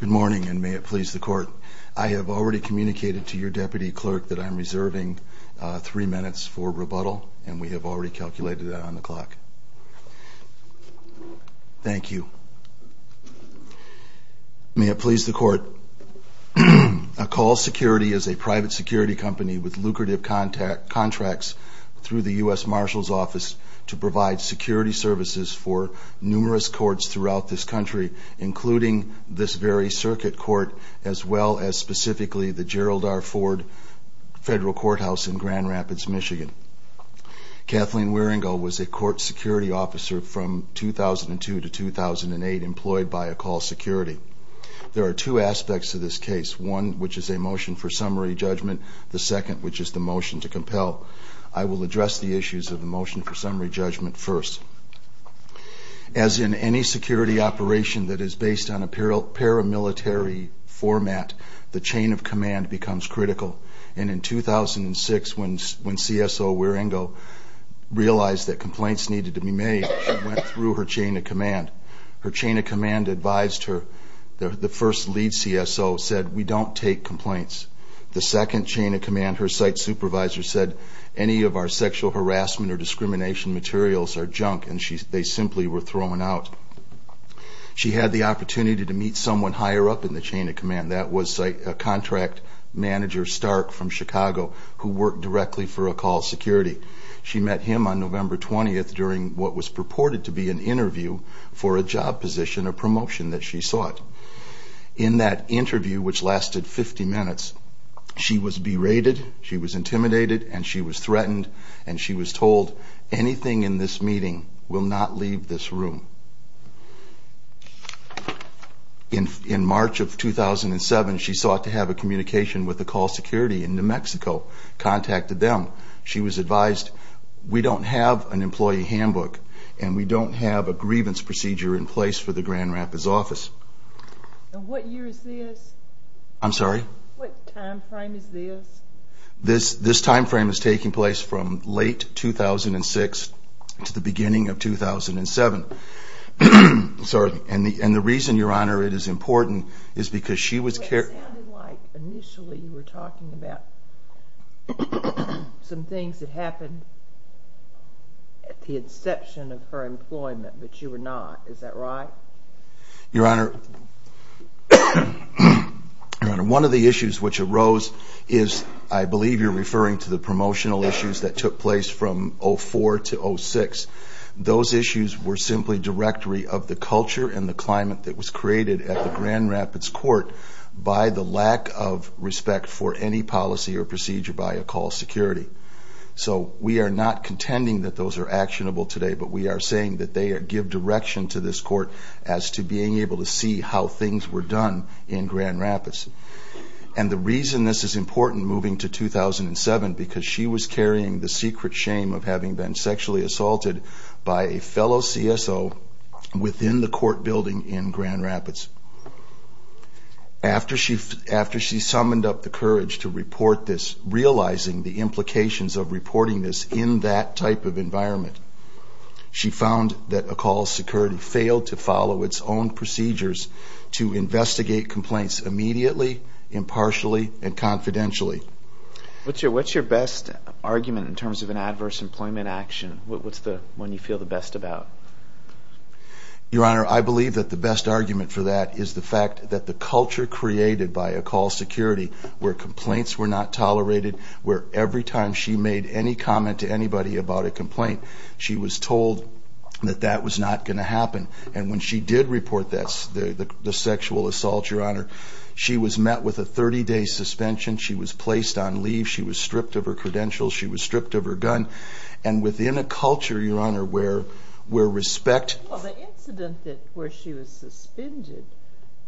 Good morning, and may it please the court. I have already communicated to your deputy clerk that I'm reserving three minutes for rebuttal, and we have already calculated that on the clock. Thank you. May it please the court. Akal Security is a private security company with lucrative contracts through the U.S. Marshal's Office to provide security services for numerous courts throughout this country, including this very circuit court, as well as specifically the Gerald R. Ford Federal Courthouse in Grand Rapids, Michigan. Kathleen Wierengo was a court security officer from 2002 to 2008 employed by Akal Security. There are two aspects to this case, one which is a motion for summary judgment, the second which is the motion to compel. I will address the issues of the motion for summary judgment first. As in any security operation that is based on a paramilitary format, the chain of command becomes critical. And in 2006, when CSO Wierengo realized that complaints needed to be made, she went through her chain of command. Her chain of command advised her, the first lead CSO said, we don't take complaints. The second chain of command, her site supervisor said any of our sexual harassment or discrimination materials are junk, and they simply were thrown out. She had the opportunity to meet someone higher up in the chain of command. That was a contract manager, Stark, from Chicago, who worked directly for Akal Security. She met him on November 20th during what was purported to be an interview for a job position, a promotion that she sought. In that interview, which lasted 50 minutes, she was berated, she was intimidated, and she was threatened, and she was told, anything in this meeting will not to have a communication with Akal Security in New Mexico, contacted them. She was advised, we don't have an employee handbook, and we don't have a grievance procedure in place for the Grand Rapids office. And what year is this? I'm sorry? What time frame is this? This time frame is taking place from late 2006 to the beginning of 2007. And the reason, Your Honor, it is important is because she was... It sounded like initially you were talking about some things that happened at the inception of her employment, but you were not. Is that right? Your Honor, one of the issues which arose is, I believe you're referring to the promotional issues that took place from 2004 to 2006. Those issues were simply culture and the climate that was created at the Grand Rapids court by the lack of respect for any policy or procedure by Akal Security. So we are not contending that those are actionable today, but we are saying that they give direction to this court as to being able to see how things were done in Grand Rapids. And the reason this is important moving to 2007, because she was carrying the secret shame of having been sexually assaulted by a fellow CSO within the court building in Grand Rapids. After she summoned up the courage to report this, realizing the implications of reporting this in that type of environment, she found that Akal Security failed to follow its own procedures to investigate complaints immediately, impartially, and confidentially. What's your best argument in terms of an adverse employment action? What's the one you feel the best about? Your Honor, I believe that the best argument for that is the fact that the culture created by Akal Security, where complaints were not tolerated, where every time she made any comment to anybody about a complaint, she was told that that was not going to happen. And when she did report the sexual assault, Your Honor, she was met with a 30-day suspension. She was placed on leave. She was stripped of her credentials. She was stripped of her gun. And within a culture, Your Honor, where respect... Well, the incident where she was suspended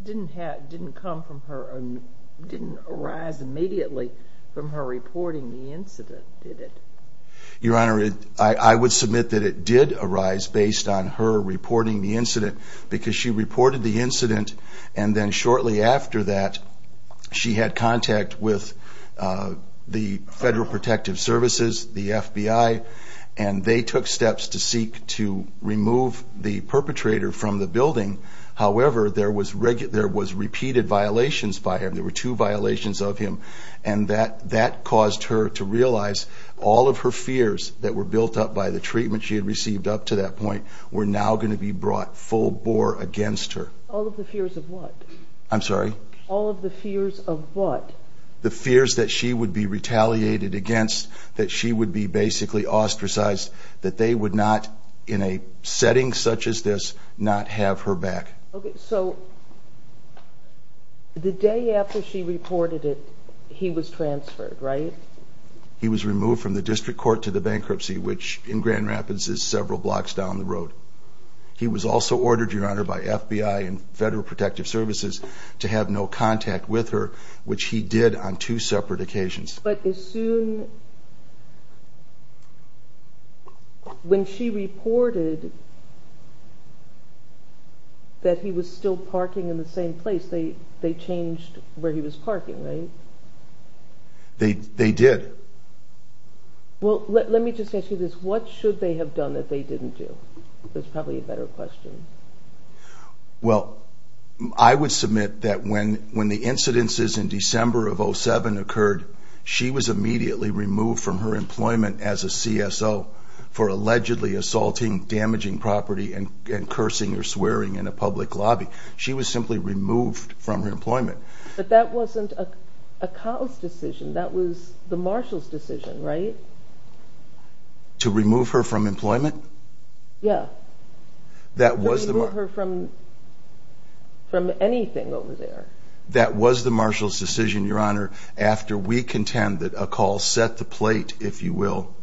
didn't arise immediately from her reporting the incident, did it? Your Honor, I would submit that it did arise based on her reporting the incident, because she reported the incident, and then shortly after that, she had contact with the Federal Protective Services, the FBI, and they took steps to seek to remove the perpetrator from the building. However, there was repeated violations by him. There were two violations of him. And that caused her to realize all of her fears that were built up by the treatment she had received up to that point were now going to be brought full bore against her. All of the fears of what? I'm sorry? All of the fears of what? The fears that she would be retaliated against, that she would be basically ostracized, that they would not, in a setting such as this, not have her back. Okay, so the day after she reported it, he was transferred, right? He was removed from the district court to the bankruptcy, which in Grand Rapids is several blocks down the road. He was also ordered, Your Honor, by FBI and Federal Protective Services to have no contact with her, which he did on two separate occasions. But as soon... When she reported that he was still parking in the same place, they changed where he was parking, right? They did. Well, let me just ask you this. What should they have done that they didn't do? That's probably a better question. Well, I would submit that when the incidences in December of 07 occurred, she was immediately removed from her employment as a CSO for allegedly assaulting damaging property and cursing or swearing in a public lobby. She was simply removed from her employment. But that wasn't a cause decision. That was the Marshal's decision, right? To remove her from employment? Yeah. That was the... To remove her from anything over there. That was the Marshal's decision, Your Honor, after we contend that a call set the plate, if you will,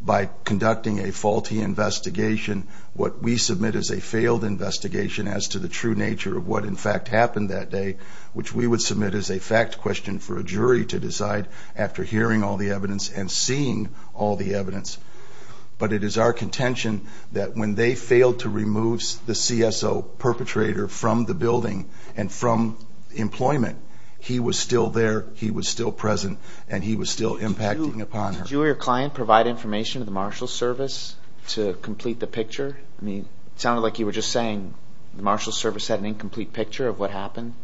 by conducting a faulty investigation, what we submit as a failed investigation as to the true nature of what, in fact, happened that day, which we would submit as a fact question for a jury to decide after hearing all the evidence and seeing all the evidence. But it is our contention that when they failed to remove the CSO perpetrator from the building and from employment, he was still there, he was still present, and he was still impacting upon her. Did you or your client provide information to the Marshal's service to complete the picture? I mean, it sounded like you were just saying the Marshal's service had an incomplete picture of what happened.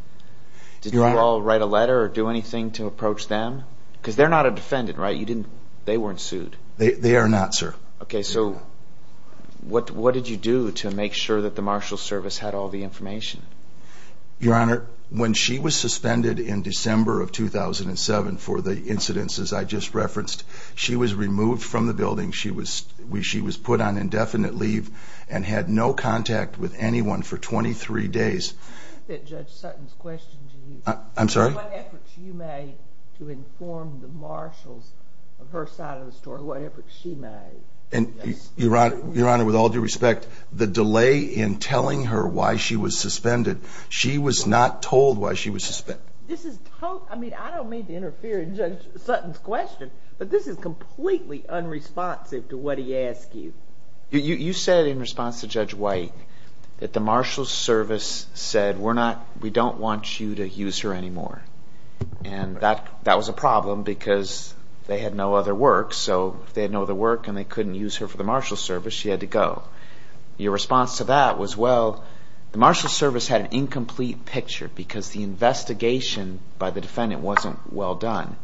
Did you all write a letter or do anything to approach them? Because they're not a defendant, right? They weren't sued. They are not, sir. Okay, so what did you do to make sure that the Marshal's service had all the information? Your Honor, when she was suspended in December of 2007 for the incidents, as I just referenced, she was removed from the building. She was put on indefinite leave and had no contact with anyone for 23 days. Judge Sutton's question to you. I'm sorry? What efforts you made to inform the Marshals of her side of the story, what efforts she made. Your Honor, with all due respect, the delay in telling her why she was suspended, she was not told why she was suspended. I mean, I don't mean to interfere in Judge Sutton's question, but this is completely unresponsive to what he asked you. You said in response to Judge White that the Marshal's service said, we don't want you to use her anymore. And that was a problem because they had no other work, so if they had no other work and they couldn't use her for the Marshal's service, she had to go. Your response to that was, well, the Marshal's service had an incomplete picture because the investigation by the defendant wasn't well done.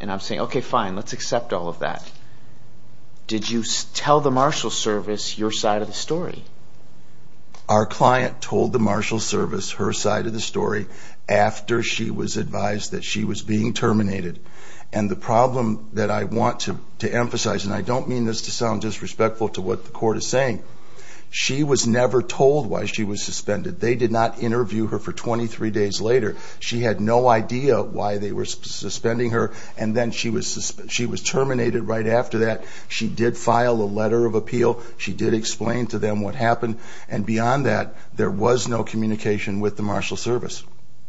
And I'm saying, okay, fine, let's accept all of that. Did you tell the Marshal's service your side of the story? Our client told the Marshal's service her side of the story after she was advised that she was being terminated. And the problem that I want to emphasize, and I don't mean this to sound disrespectful to what the court is saying, she was never told why she was suspended. They did not interview her for 23 days later. She had no idea why they were suspending her. And then she was terminated right after that. She did file a letter of appeal. She did explain to them what happened. And beyond that, there was no communication with the Marshal's service.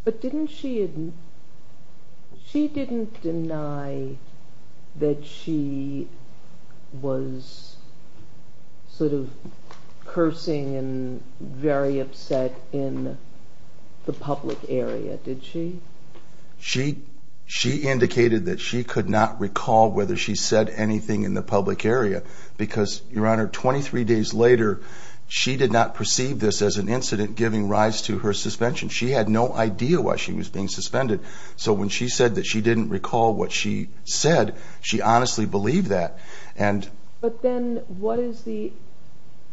But didn't she, she didn't deny that she was sort of cursing and very upset in the public area, did she? She, she indicated that she could not recall whether she said anything in the public area. Because Your Honor, 23 days later, she did not perceive this as an incident giving rise to her suspension. She had no idea why she was being suspended. So when she said that she didn't recall what she said, she honestly believed that. And but then what is the,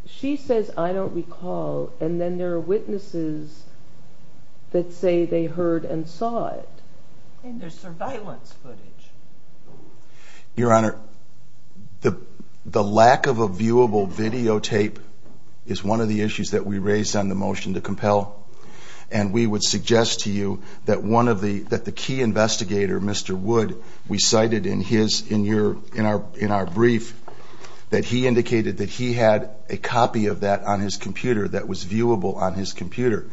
she says, I don't recall. And then there are witnesses that say they heard and saw it. And there's surveillance footage. Your Honor, the lack of a viewable videotape is one of the issues that we raised on the motion to compel. And we would suggest to you that one of the, that the key investigator, Mr. Wood, we cited in his, in your, in our, in our brief, that he indicated that he had a copy of that on his computer that was viewable on his computer.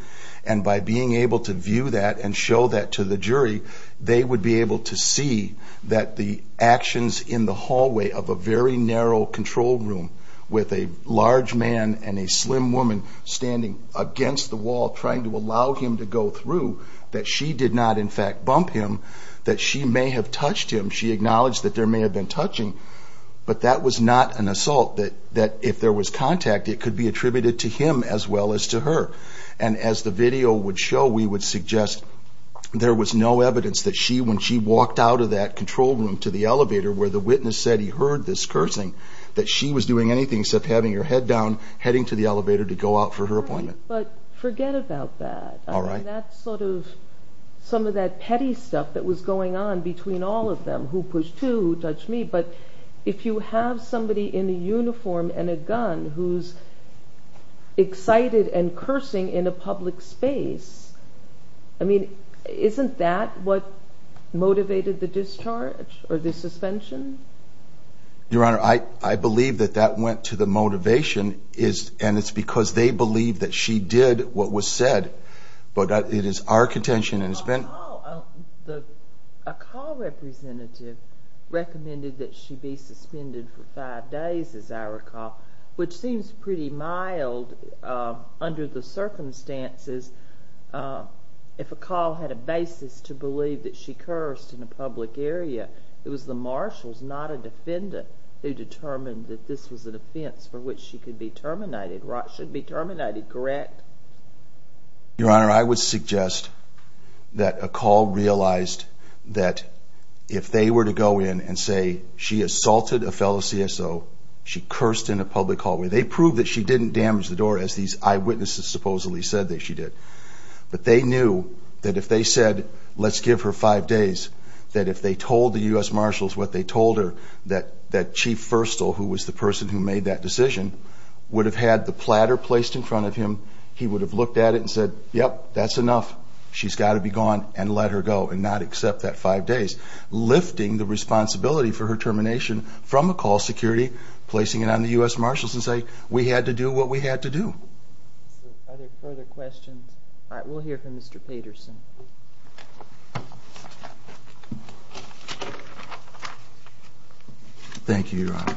And by being able to view that and show that to the jury, they would be able to see that the actions in the hallway of a very narrow control room with a large man and a slim woman standing against the wall, trying to allow him to go through, that she did not in fact bump him, that she may have touched him. She acknowledged that there may have been touching, but that was not an assault that, that if there was contact, it could be attributed to him as well as to her. And as the video would show, we would suggest there was no evidence that she, when she walked out of that control room to the elevator where the witness said he heard this cursing, that she was doing anything except having her head down, heading to the elevator to go out for her appointment. But forget about that. That's sort of some of that petty stuff that was going on between all of them who pushed who touched me. But if you have somebody in a uniform and a gun, who's excited and cursing in a public space, I mean, isn't that what motivated the discharge or the suspension? Your Honor, I, I believe that that went to the motivation is, and it's because they believe that she did what was said, but it is our contention and it's been... A call, a call representative recommended that she be suspended for five days, as I recall, which seems pretty mild under the circumstances. If a call had a basis to believe that she cursed in a public area, it was the marshals, not a defendant, who determined that this was a defense for which she could be terminated, should be terminated, correct? Your Honor, I would suggest that a call realized that if they were to go in and say she assaulted a fellow CSO, she cursed in a public hallway. They proved that she didn't damage the door as these eyewitnesses supposedly said that she did. But they knew that if they said, let's give her five days, that if they told the U.S. Marshals what they told her, that, that Chief Firstall, who was the person who made that decision, would have had the platter placed in front of him. He would have looked at it and said, yep, that's enough. She's got to be gone and let her go and not accept that five days, lifting the responsibility for her termination from a call security, placing it on the U.S. Marshals and say, we had to do what we had to do. Are there further questions? All right, we'll hear from Mr. Pedersen. Thank you, Your Honor.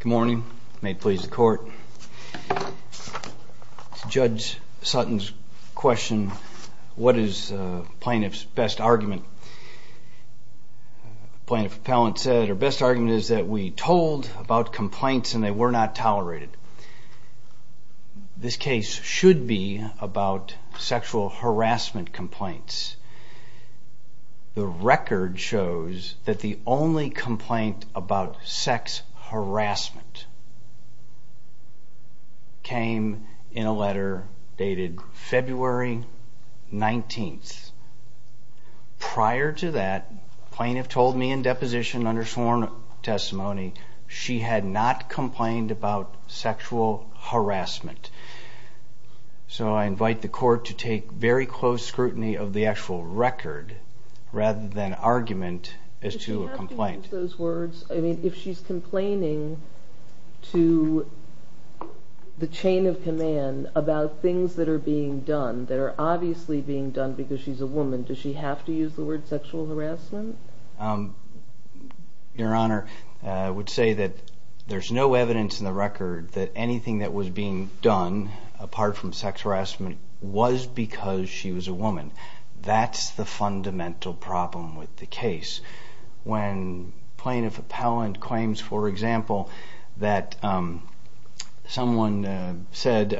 Good morning. May it please the Court. Judge Sutton's question, what is plaintiff's best argument? Plaintiff's appellant said, our best argument is that we told about complaints and they were not tolerated. This case should be about sexual harassment complaints. The record shows that the only complaint about sex harassment came in a letter dated February 19th. Prior to that, plaintiff told me in deposition under sworn testimony, she had not complained about sexual harassment. So I invite the Court to take very close scrutiny of the actual record rather than argument as to a complaint. If she's complaining to the chain of command about things that are being done, that are obviously being done because she's a woman, does she have to use the word sexual harassment? Your Honor, I would say that there's no evidence in the record that anything that was being done apart from sex harassment was because she was a woman. That's the fundamental problem with the case. When plaintiff's appellant claims, for example, that someone said,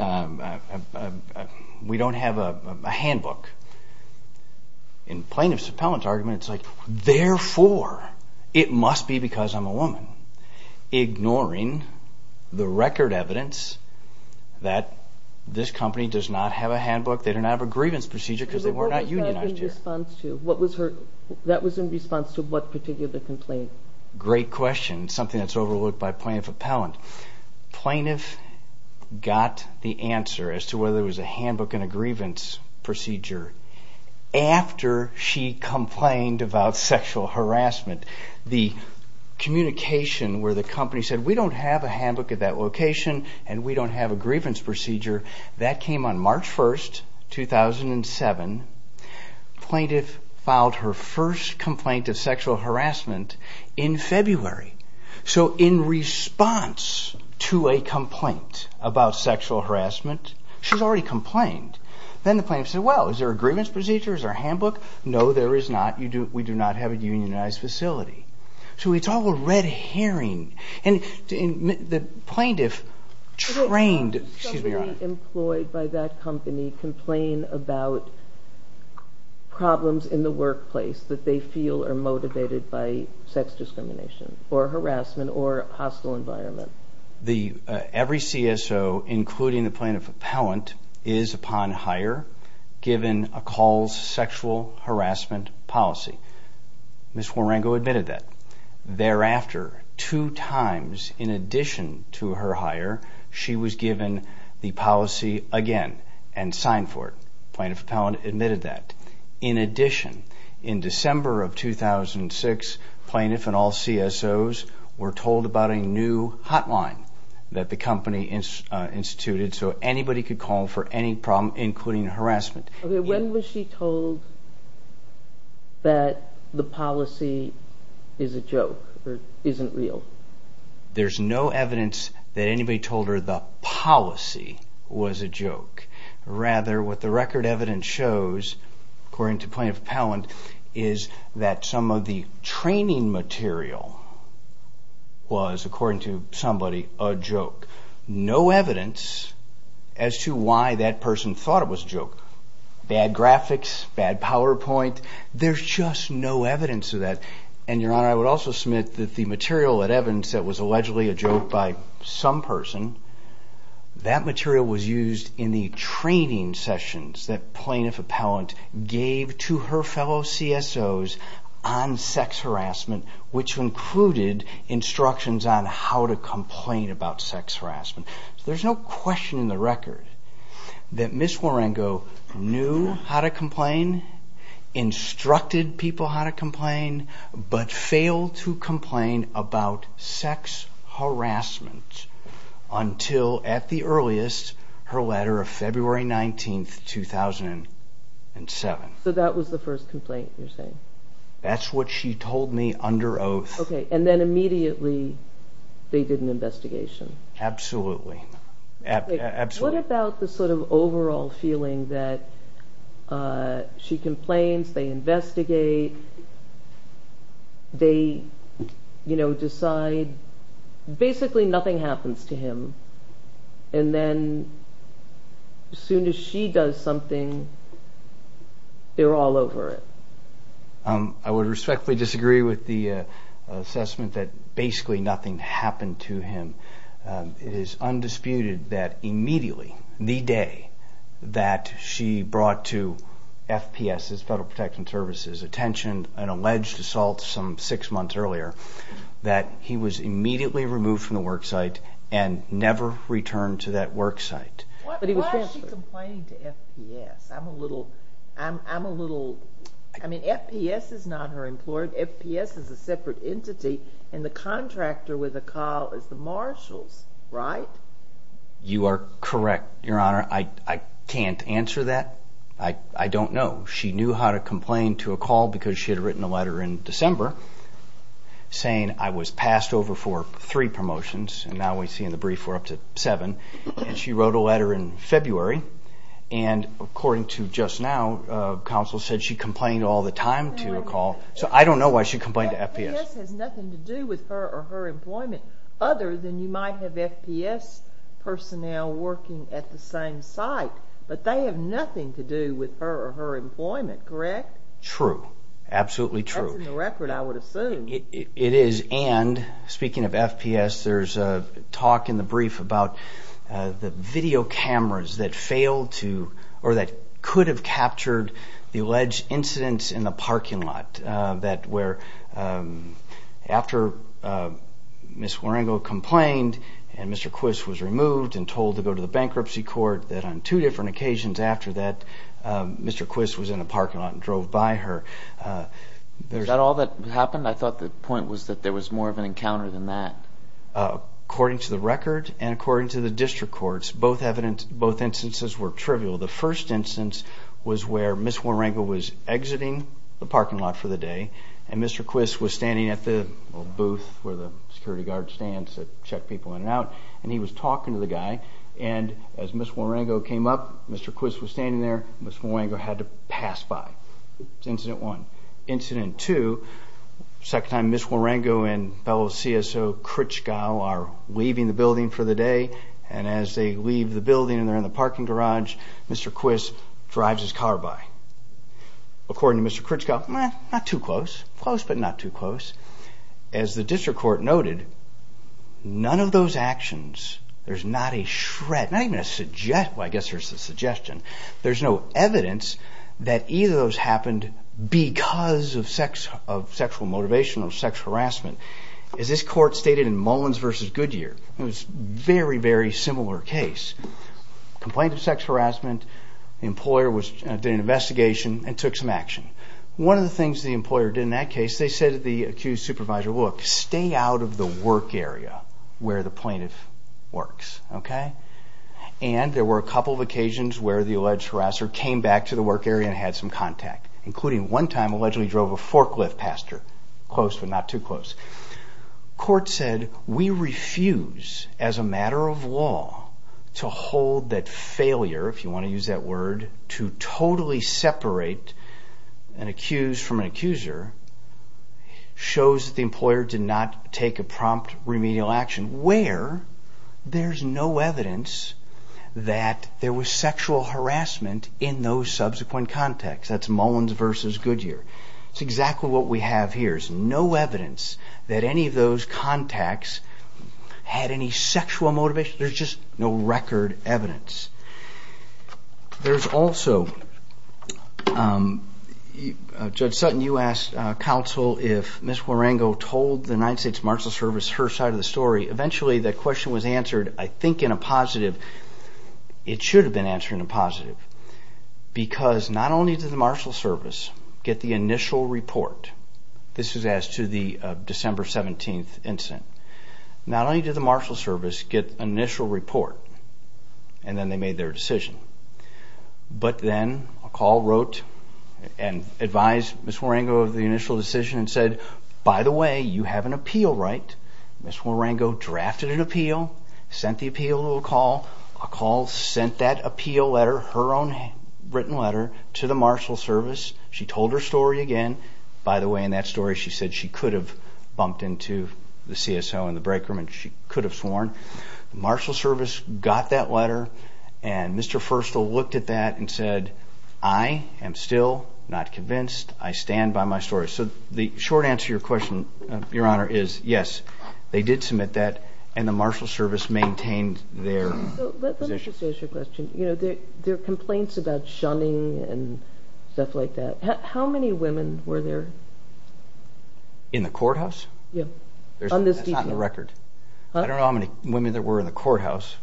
we don't have a handbook. In plaintiff's appellant's argument, it's like, therefore, it must be because I'm a woman. Ignoring the record evidence that this company does not have a handbook, they do not have a grievance procedure because they were not unionized here. What was that in response to? What was her, that was in response to what particular complaint? Great question. Something that's overlooked by plaintiff's appellant. Plaintiff got the answer as to whether it was a handbook and a grievance procedure after she complained about sexual harassment. The communication where the company said, we don't have a handbook at that location and we don't have a grievance procedure, that came on March 1st, 2007. Plaintiff filed her first complaint of sexual harassment in February. So in response to a complaint about sexual harassment, she's already complained. Then the plaintiff said, well, is there a grievance procedure? Is there a handbook? No, there is not. We do not have a unionized facility. So it's all a red herring. And the plaintiff trained, excuse me, Your Honor. Did somebody employed by that company complain about problems in the workplace that they feel are motivated by sex discrimination or harassment or hostile environment? Every CSO, including the plaintiff appellant, is upon hire given a calls sexual harassment policy. Ms. Warango admitted that. Thereafter, two times in addition to her hire, she was given the policy again and signed for it. Plaintiff appellant admitted that. In addition, in December of 2006, plaintiff and all CSOs were told about a new hotline that the company instituted so anybody could call for any problem, including harassment. When was she told that the policy is a joke or isn't real? There's no evidence that anybody told her the policy was a joke. Rather, what the record evidence shows, according to plaintiff appellant, is that some of the training material was, according to somebody, a joke. No evidence as to why that person thought it was a joke. Bad graphics, bad PowerPoint, there's just no evidence of that. And, Your Honor, I would also submit that the material and evidence that was allegedly a joke by some person, that material was used in the training sessions that plaintiff appellant gave to her fellow CSOs on sex harassment, which included instructions on how to complain about sex harassment. There's no question in the record that Ms. Warango knew how to complain, instructed people how to complain, but failed to complain about sex harassment until, at the earliest, her letter of February 19, 2007. So that was the first complaint you're saying? That's what she told me under oath. Okay, and then immediately they did an investigation? Absolutely. What about the sort of overall feeling that she complains, they investigate, they decide, basically nothing happens to him, and then as soon as she does something, they're all over it? I would respectfully disagree with the assessment that basically nothing happened to him. It is undisputed that immediately, the day that she brought to FPS, Federal Protection Services, attention, an alleged assault some six months earlier, that he was immediately removed from the work site and never returned to that work site. Why is she complaining to FPS? I'm a little, I'm a little, I mean, FPS is not her employer. FPS is a separate entity, and the contractor with a call is the Marshals, right? You are correct, Your Honor. I can't answer that. I don't know. She knew how to complain to a call because she had written a letter in December saying, I was passed over for three promotions, and now we see in the brief we're up to seven, and she wrote a letter in February, and according to just now, counsel said she complained all the time to a call. So I don't know why she complained to FPS. FPS has nothing to do with her or her employment, other than you might have FPS personnel working at the same site, but they have nothing to do with her or her employment, correct? True, absolutely true. That's in the record, I would assume. It is, and speaking of FPS, there's a talk in the brief about the video cameras that failed to, or that could have captured the alleged incidents in the parking lot, where after Ms. Waringo complained and Mr. Quist was removed and told to go to the bankruptcy court, that on two different occasions after that, Mr. Quist was in a parking lot and drove by her. Is that all that happened? I thought the point was that there was more of an encounter than that. According to the record and according to the district courts, both instances were trivial. The first instance was where Ms. Waringo was exiting the parking lot for the day and Mr. Quist was standing at the booth where the security guard stands to check people in and out, and he was talking to the guy, and as Ms. Waringo came up, Mr. Quist was standing there, and Ms. Waringo had to pass by. That's incident one. Incident two, second time Ms. Waringo and fellow CSO Kritschkow are leaving the building for the day, and as they leave the building and they're in the parking garage, Mr. Quist drives his car by. According to Mr. Kritschkow, not too close, close but not too close. As the district court noted, none of those actions, there's not a shred, not even a suggestion, well I guess there's a suggestion, there's no evidence that either of those happened because of sexual motivation or sex harassment. As this court stated in Mullins v. Goodyear, it was a very, very similar case. Complaint of sex harassment, the employer did an investigation and took some action. One of the things the employer did in that case, they said to the accused supervisor, look, stay out of the work area where the plaintiff works, okay? And there were a couple of occasions where the alleged harasser came back to the work area and had some contact, including one time allegedly drove a forklift past her. Close but not too close. Court said, we refuse, as a matter of law, to hold that failure, if you want to use that word, to totally separate an accused from an accuser, shows that the employer did not take a prompt remedial action, where there's no evidence that there was sexual harassment in those subsequent contacts. That's Mullins v. Goodyear. That's exactly what we have here. There's no evidence that any of those contacts had any sexual motivation. There's just no record evidence. There's also, Judge Sutton, you asked counsel if Ms. Warango told the United States Marshal Service her side of the story. Eventually, that question was answered, I think, in a positive. It should have been answered in a positive. Because not only did the Marshal Service get the initial report, this is as to the December 17th incident, not only did the Marshal Service get an initial report and then they made their decision, but then a call wrote and advised Ms. Warango of the initial decision and said, by the way, you have an appeal right. Ms. Warango drafted an appeal, sent the appeal to a call. A call sent that appeal letter, her own written letter, to the Marshal Service. She told her story again. By the way, in that story she said she could have bumped into the CSO in the break room and she could have sworn. The Marshal Service got that letter and Mr. Firstall looked at that and said, I am still not convinced. I stand by my story. So the short answer to your question, Your Honor, is yes, they did submit that and the Marshal Service maintained their position. Let me just ask you a question. There are complaints about shunning and stuff like that. How many women were there? In the courthouse? Yes. That's not on the record. I don't know how many women there were in the courthouse.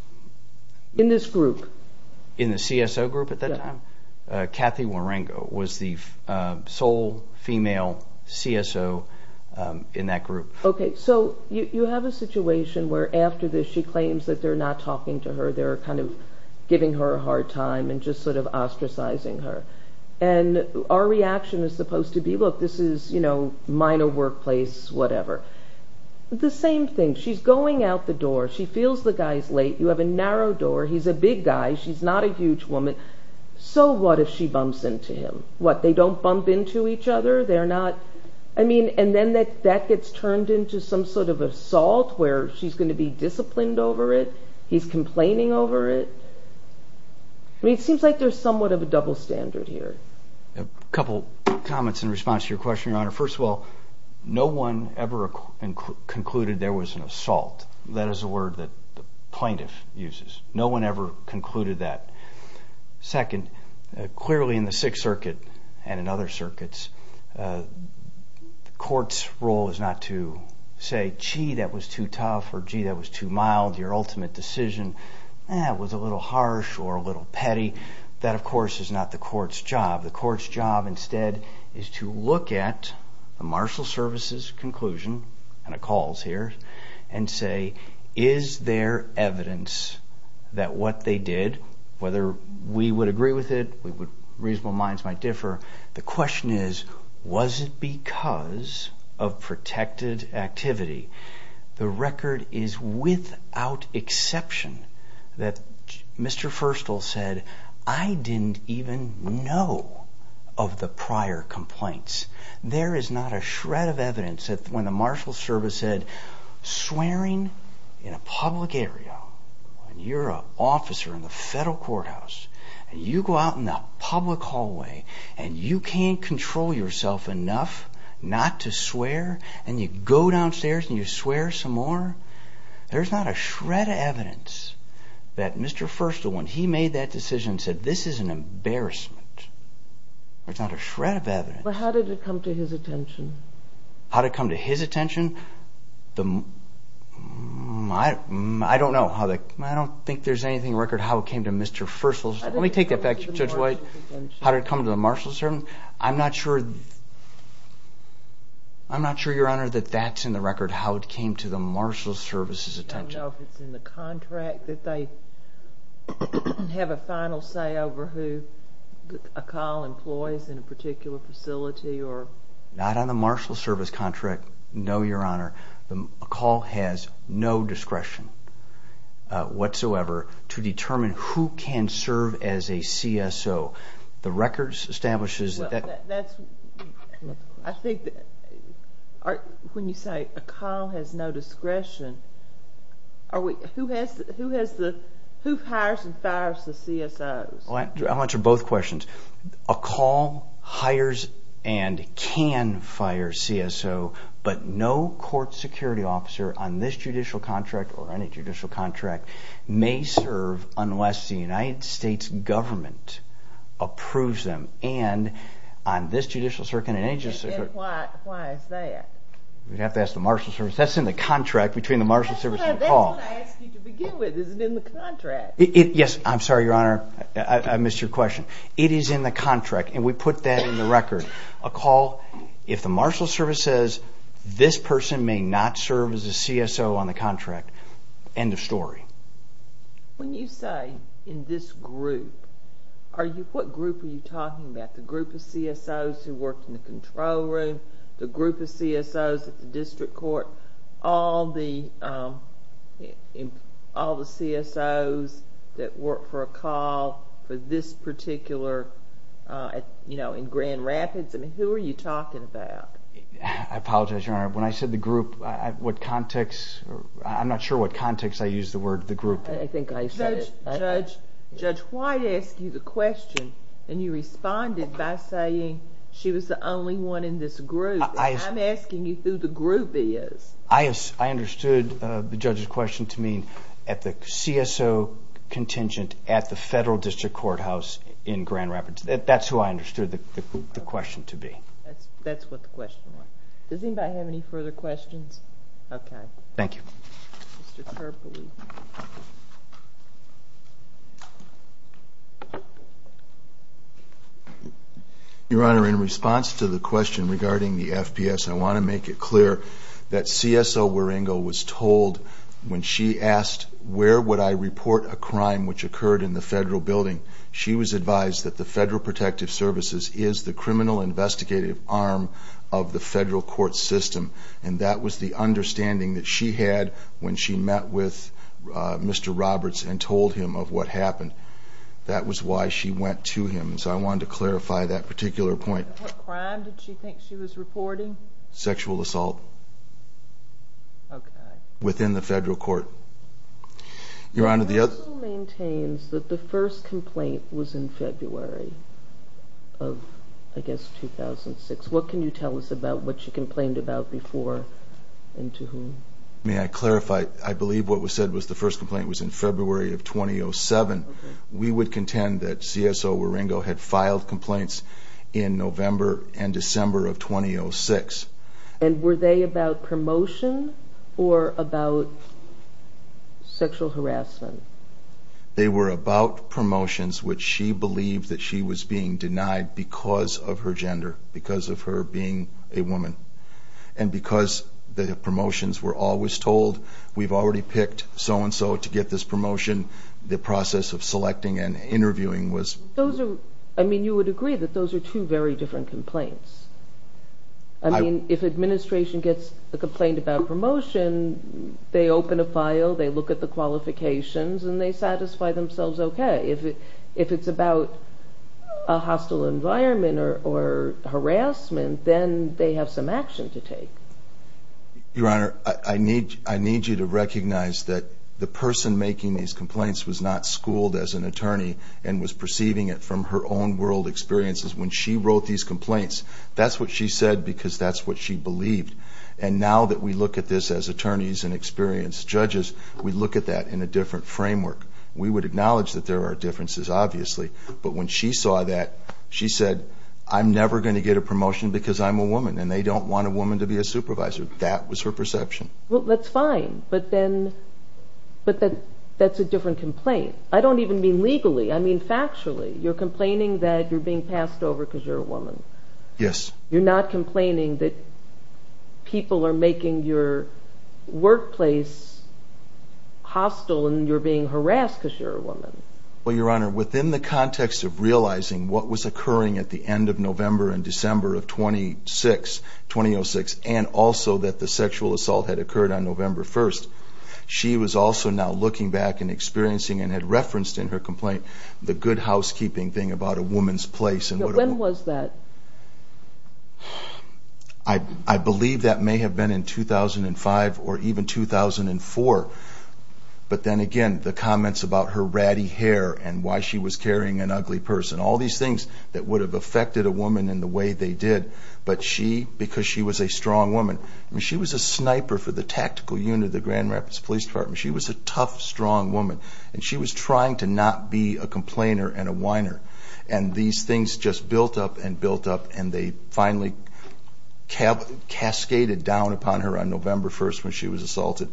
In this group? In the CSO group at that time? Yes. Kathy Warango was the sole female CSO in that group. Okay, so you have a situation where after this she claims that they're not talking to her. They're kind of giving her a hard time and just sort of ostracizing her. And our reaction is supposed to be, look, this is, you know, minor workplace, whatever. The same thing. She's going out the door. She feels the guy's late. You have a narrow door. He's a big guy. She's not a huge woman. So what if she bumps into him? What, they don't bump into each other? I mean, and then that gets turned into some sort of assault where she's going to be disciplined over it. He's complaining over it. I mean, it seems like there's somewhat of a double standard here. A couple comments in response to your question, Your Honor. First of all, no one ever concluded there was an assault. That is a word that the plaintiff uses. No one ever concluded that. Second, clearly in the Sixth Circuit and in other circuits, the court's role is not to say, gee, that was too tough or, gee, that was too mild. Your ultimate decision was a little harsh or a little petty. That, of course, is not the court's job. The court's job instead is to look at the marshal service's conclusion, and it calls here, and say, is there evidence that what they did, whether we would agree with it, reasonable minds might differ, the question is, was it because of protected activity? The record is without exception that Mr. Firstall said, I didn't even know of the prior complaints. There is not a shred of evidence that when the marshal service said, swearing in a public area, when you're an officer in the federal courthouse, and you go out in the public hallway, and you can't control yourself enough not to swear, and you go downstairs and you swear some more, there's not a shred of evidence that Mr. Firstall, when he made that decision, said, this is an embarrassment. There's not a shred of evidence. But how did it come to his attention? How did it come to his attention? I don't know. I don't think there's anything in the record how it came to Mr. Firstall's. Let me take that back, Judge White. How did it come to the marshal's attention? How did it come to the marshal's attention? I'm not sure, Your Honor, that that's in the record, how it came to the marshal's service's attention. I don't know if it's in the contract that they have a final say over who a COL employs in a particular facility. Not on the marshal's service contract, no, Your Honor. A COL has no discretion whatsoever to determine who can serve as a CSO. The record establishes that. I think when you say a COL has no discretion, who hires and fires the CSOs? I'll answer both questions. A COL hires and can fire CSO, but no court security officer on this judicial contract or any judicial contract may serve unless the United States government approves them. And on this judicial circuit and any judicial circuit... And why is that? We'd have to ask the marshal's service. That's in the contract between the marshal's service and the COL. That's what I asked you to begin with, is it in the contract? Yes, I'm sorry, Your Honor, I missed your question. It is in the contract, and we put that in the record. A COL, if the marshal's service says this person may not serve as a CSO on the contract, end of story. When you say, in this group, what group are you talking about? The group of CSOs who work in the control room? The group of CSOs at the district court? All the CSOs that work for a COL for this particular, you know, in Grand Rapids? I mean, who are you talking about? I apologize, Your Honor. When I said the group, what context, I'm not sure what context I used the word the group. I think I said it. Judge White asked you the question, and you responded by saying she was the only one in this group. I'm asking you who the group is. I understood the judge's question to mean at the CSO contingent at the federal district courthouse in Grand Rapids. That's who I understood the question to be. That's what the question was. Does anybody have any further questions? Okay. Thank you. Your Honor, in response to the question regarding the FPS, I want to make it clear that CSO Waringo was told when she asked, where would I report a crime which occurred in the federal building, she was advised that the Federal Protective Services is the criminal investigative arm of the federal court system, and that was the understanding that she had when she met with Mr. Roberts and told him of what happened. That was why she went to him. So I wanted to clarify that particular point. What crime did she think she was reporting? Sexual assault. Okay. Within the federal court. Your Honor, the other... CSO maintains that the first complaint was in February of, I guess, 2006. What can you tell us about what she complained about before and to whom? May I clarify? I believe what was said was the first complaint was in February of 2007. We would contend that CSO Waringo had filed complaints in November and December of 2006. And were they about promotion or about sexual harassment? They were about promotions, which she believed that she was being denied because of her gender, because of her being a woman, and because the promotions were always told, we've already picked so-and-so to get this promotion. The process of selecting and interviewing was... Those are, I mean, you would agree that those are two very different complaints. I mean, if administration gets a complaint about promotion, they open a file, they look at the qualifications, and they satisfy themselves okay. If it's about a hostile environment or harassment, then they have some action to take. Your Honor, I need you to recognize that the person making these complaints was not schooled as an attorney and was perceiving it from her own world experiences. When she wrote these complaints, that's what she said because that's what she believed. And now that we look at this as attorneys and experienced judges, we look at that in a different framework. We would acknowledge that there are differences, obviously. But when she saw that, she said, I'm never going to get a promotion because I'm a woman, and they don't want a woman to be a supervisor. That was her perception. Well, that's fine. But then that's a different complaint. I don't even mean legally. I mean factually. You're complaining that you're being passed over because you're a woman. Yes. You're not complaining that people are making your workplace hostile and you're being harassed because you're a woman. Well, Your Honor, within the context of realizing what was occurring at the end of November and December of 2006 and also that the sexual assault had occurred on November 1st, she was also now looking back and experiencing and had referenced in her complaint the good housekeeping thing about a woman's place. When was that? I believe that may have been in 2005 or even 2004. But then again, the comments about her ratty hair and why she was carrying an ugly purse and all these things that would have affected a woman in the way they did. But she, because she was a strong woman, I mean she was a sniper for the tactical unit of the Grand Rapids Police Department. She was a tough, strong woman. And she was trying to not be a complainer and a whiner. And these things just built up and built up, and they finally cascaded down upon her on November 1st when she was assaulted.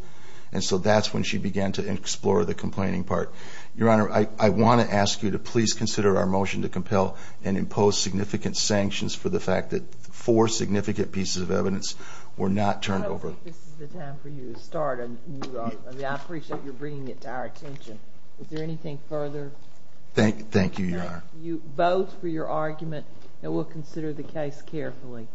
And so that's when she began to explore the complaining part. Your Honor, I want to ask you to please consider our motion to compel and impose significant sanctions for the fact that four significant pieces of evidence were not turned over. I don't think this is the time for you to start a new argument. I appreciate your bringing it to our attention. Is there anything further? Thank you, Your Honor. Thank you both for your argument, and we'll consider the case carefully.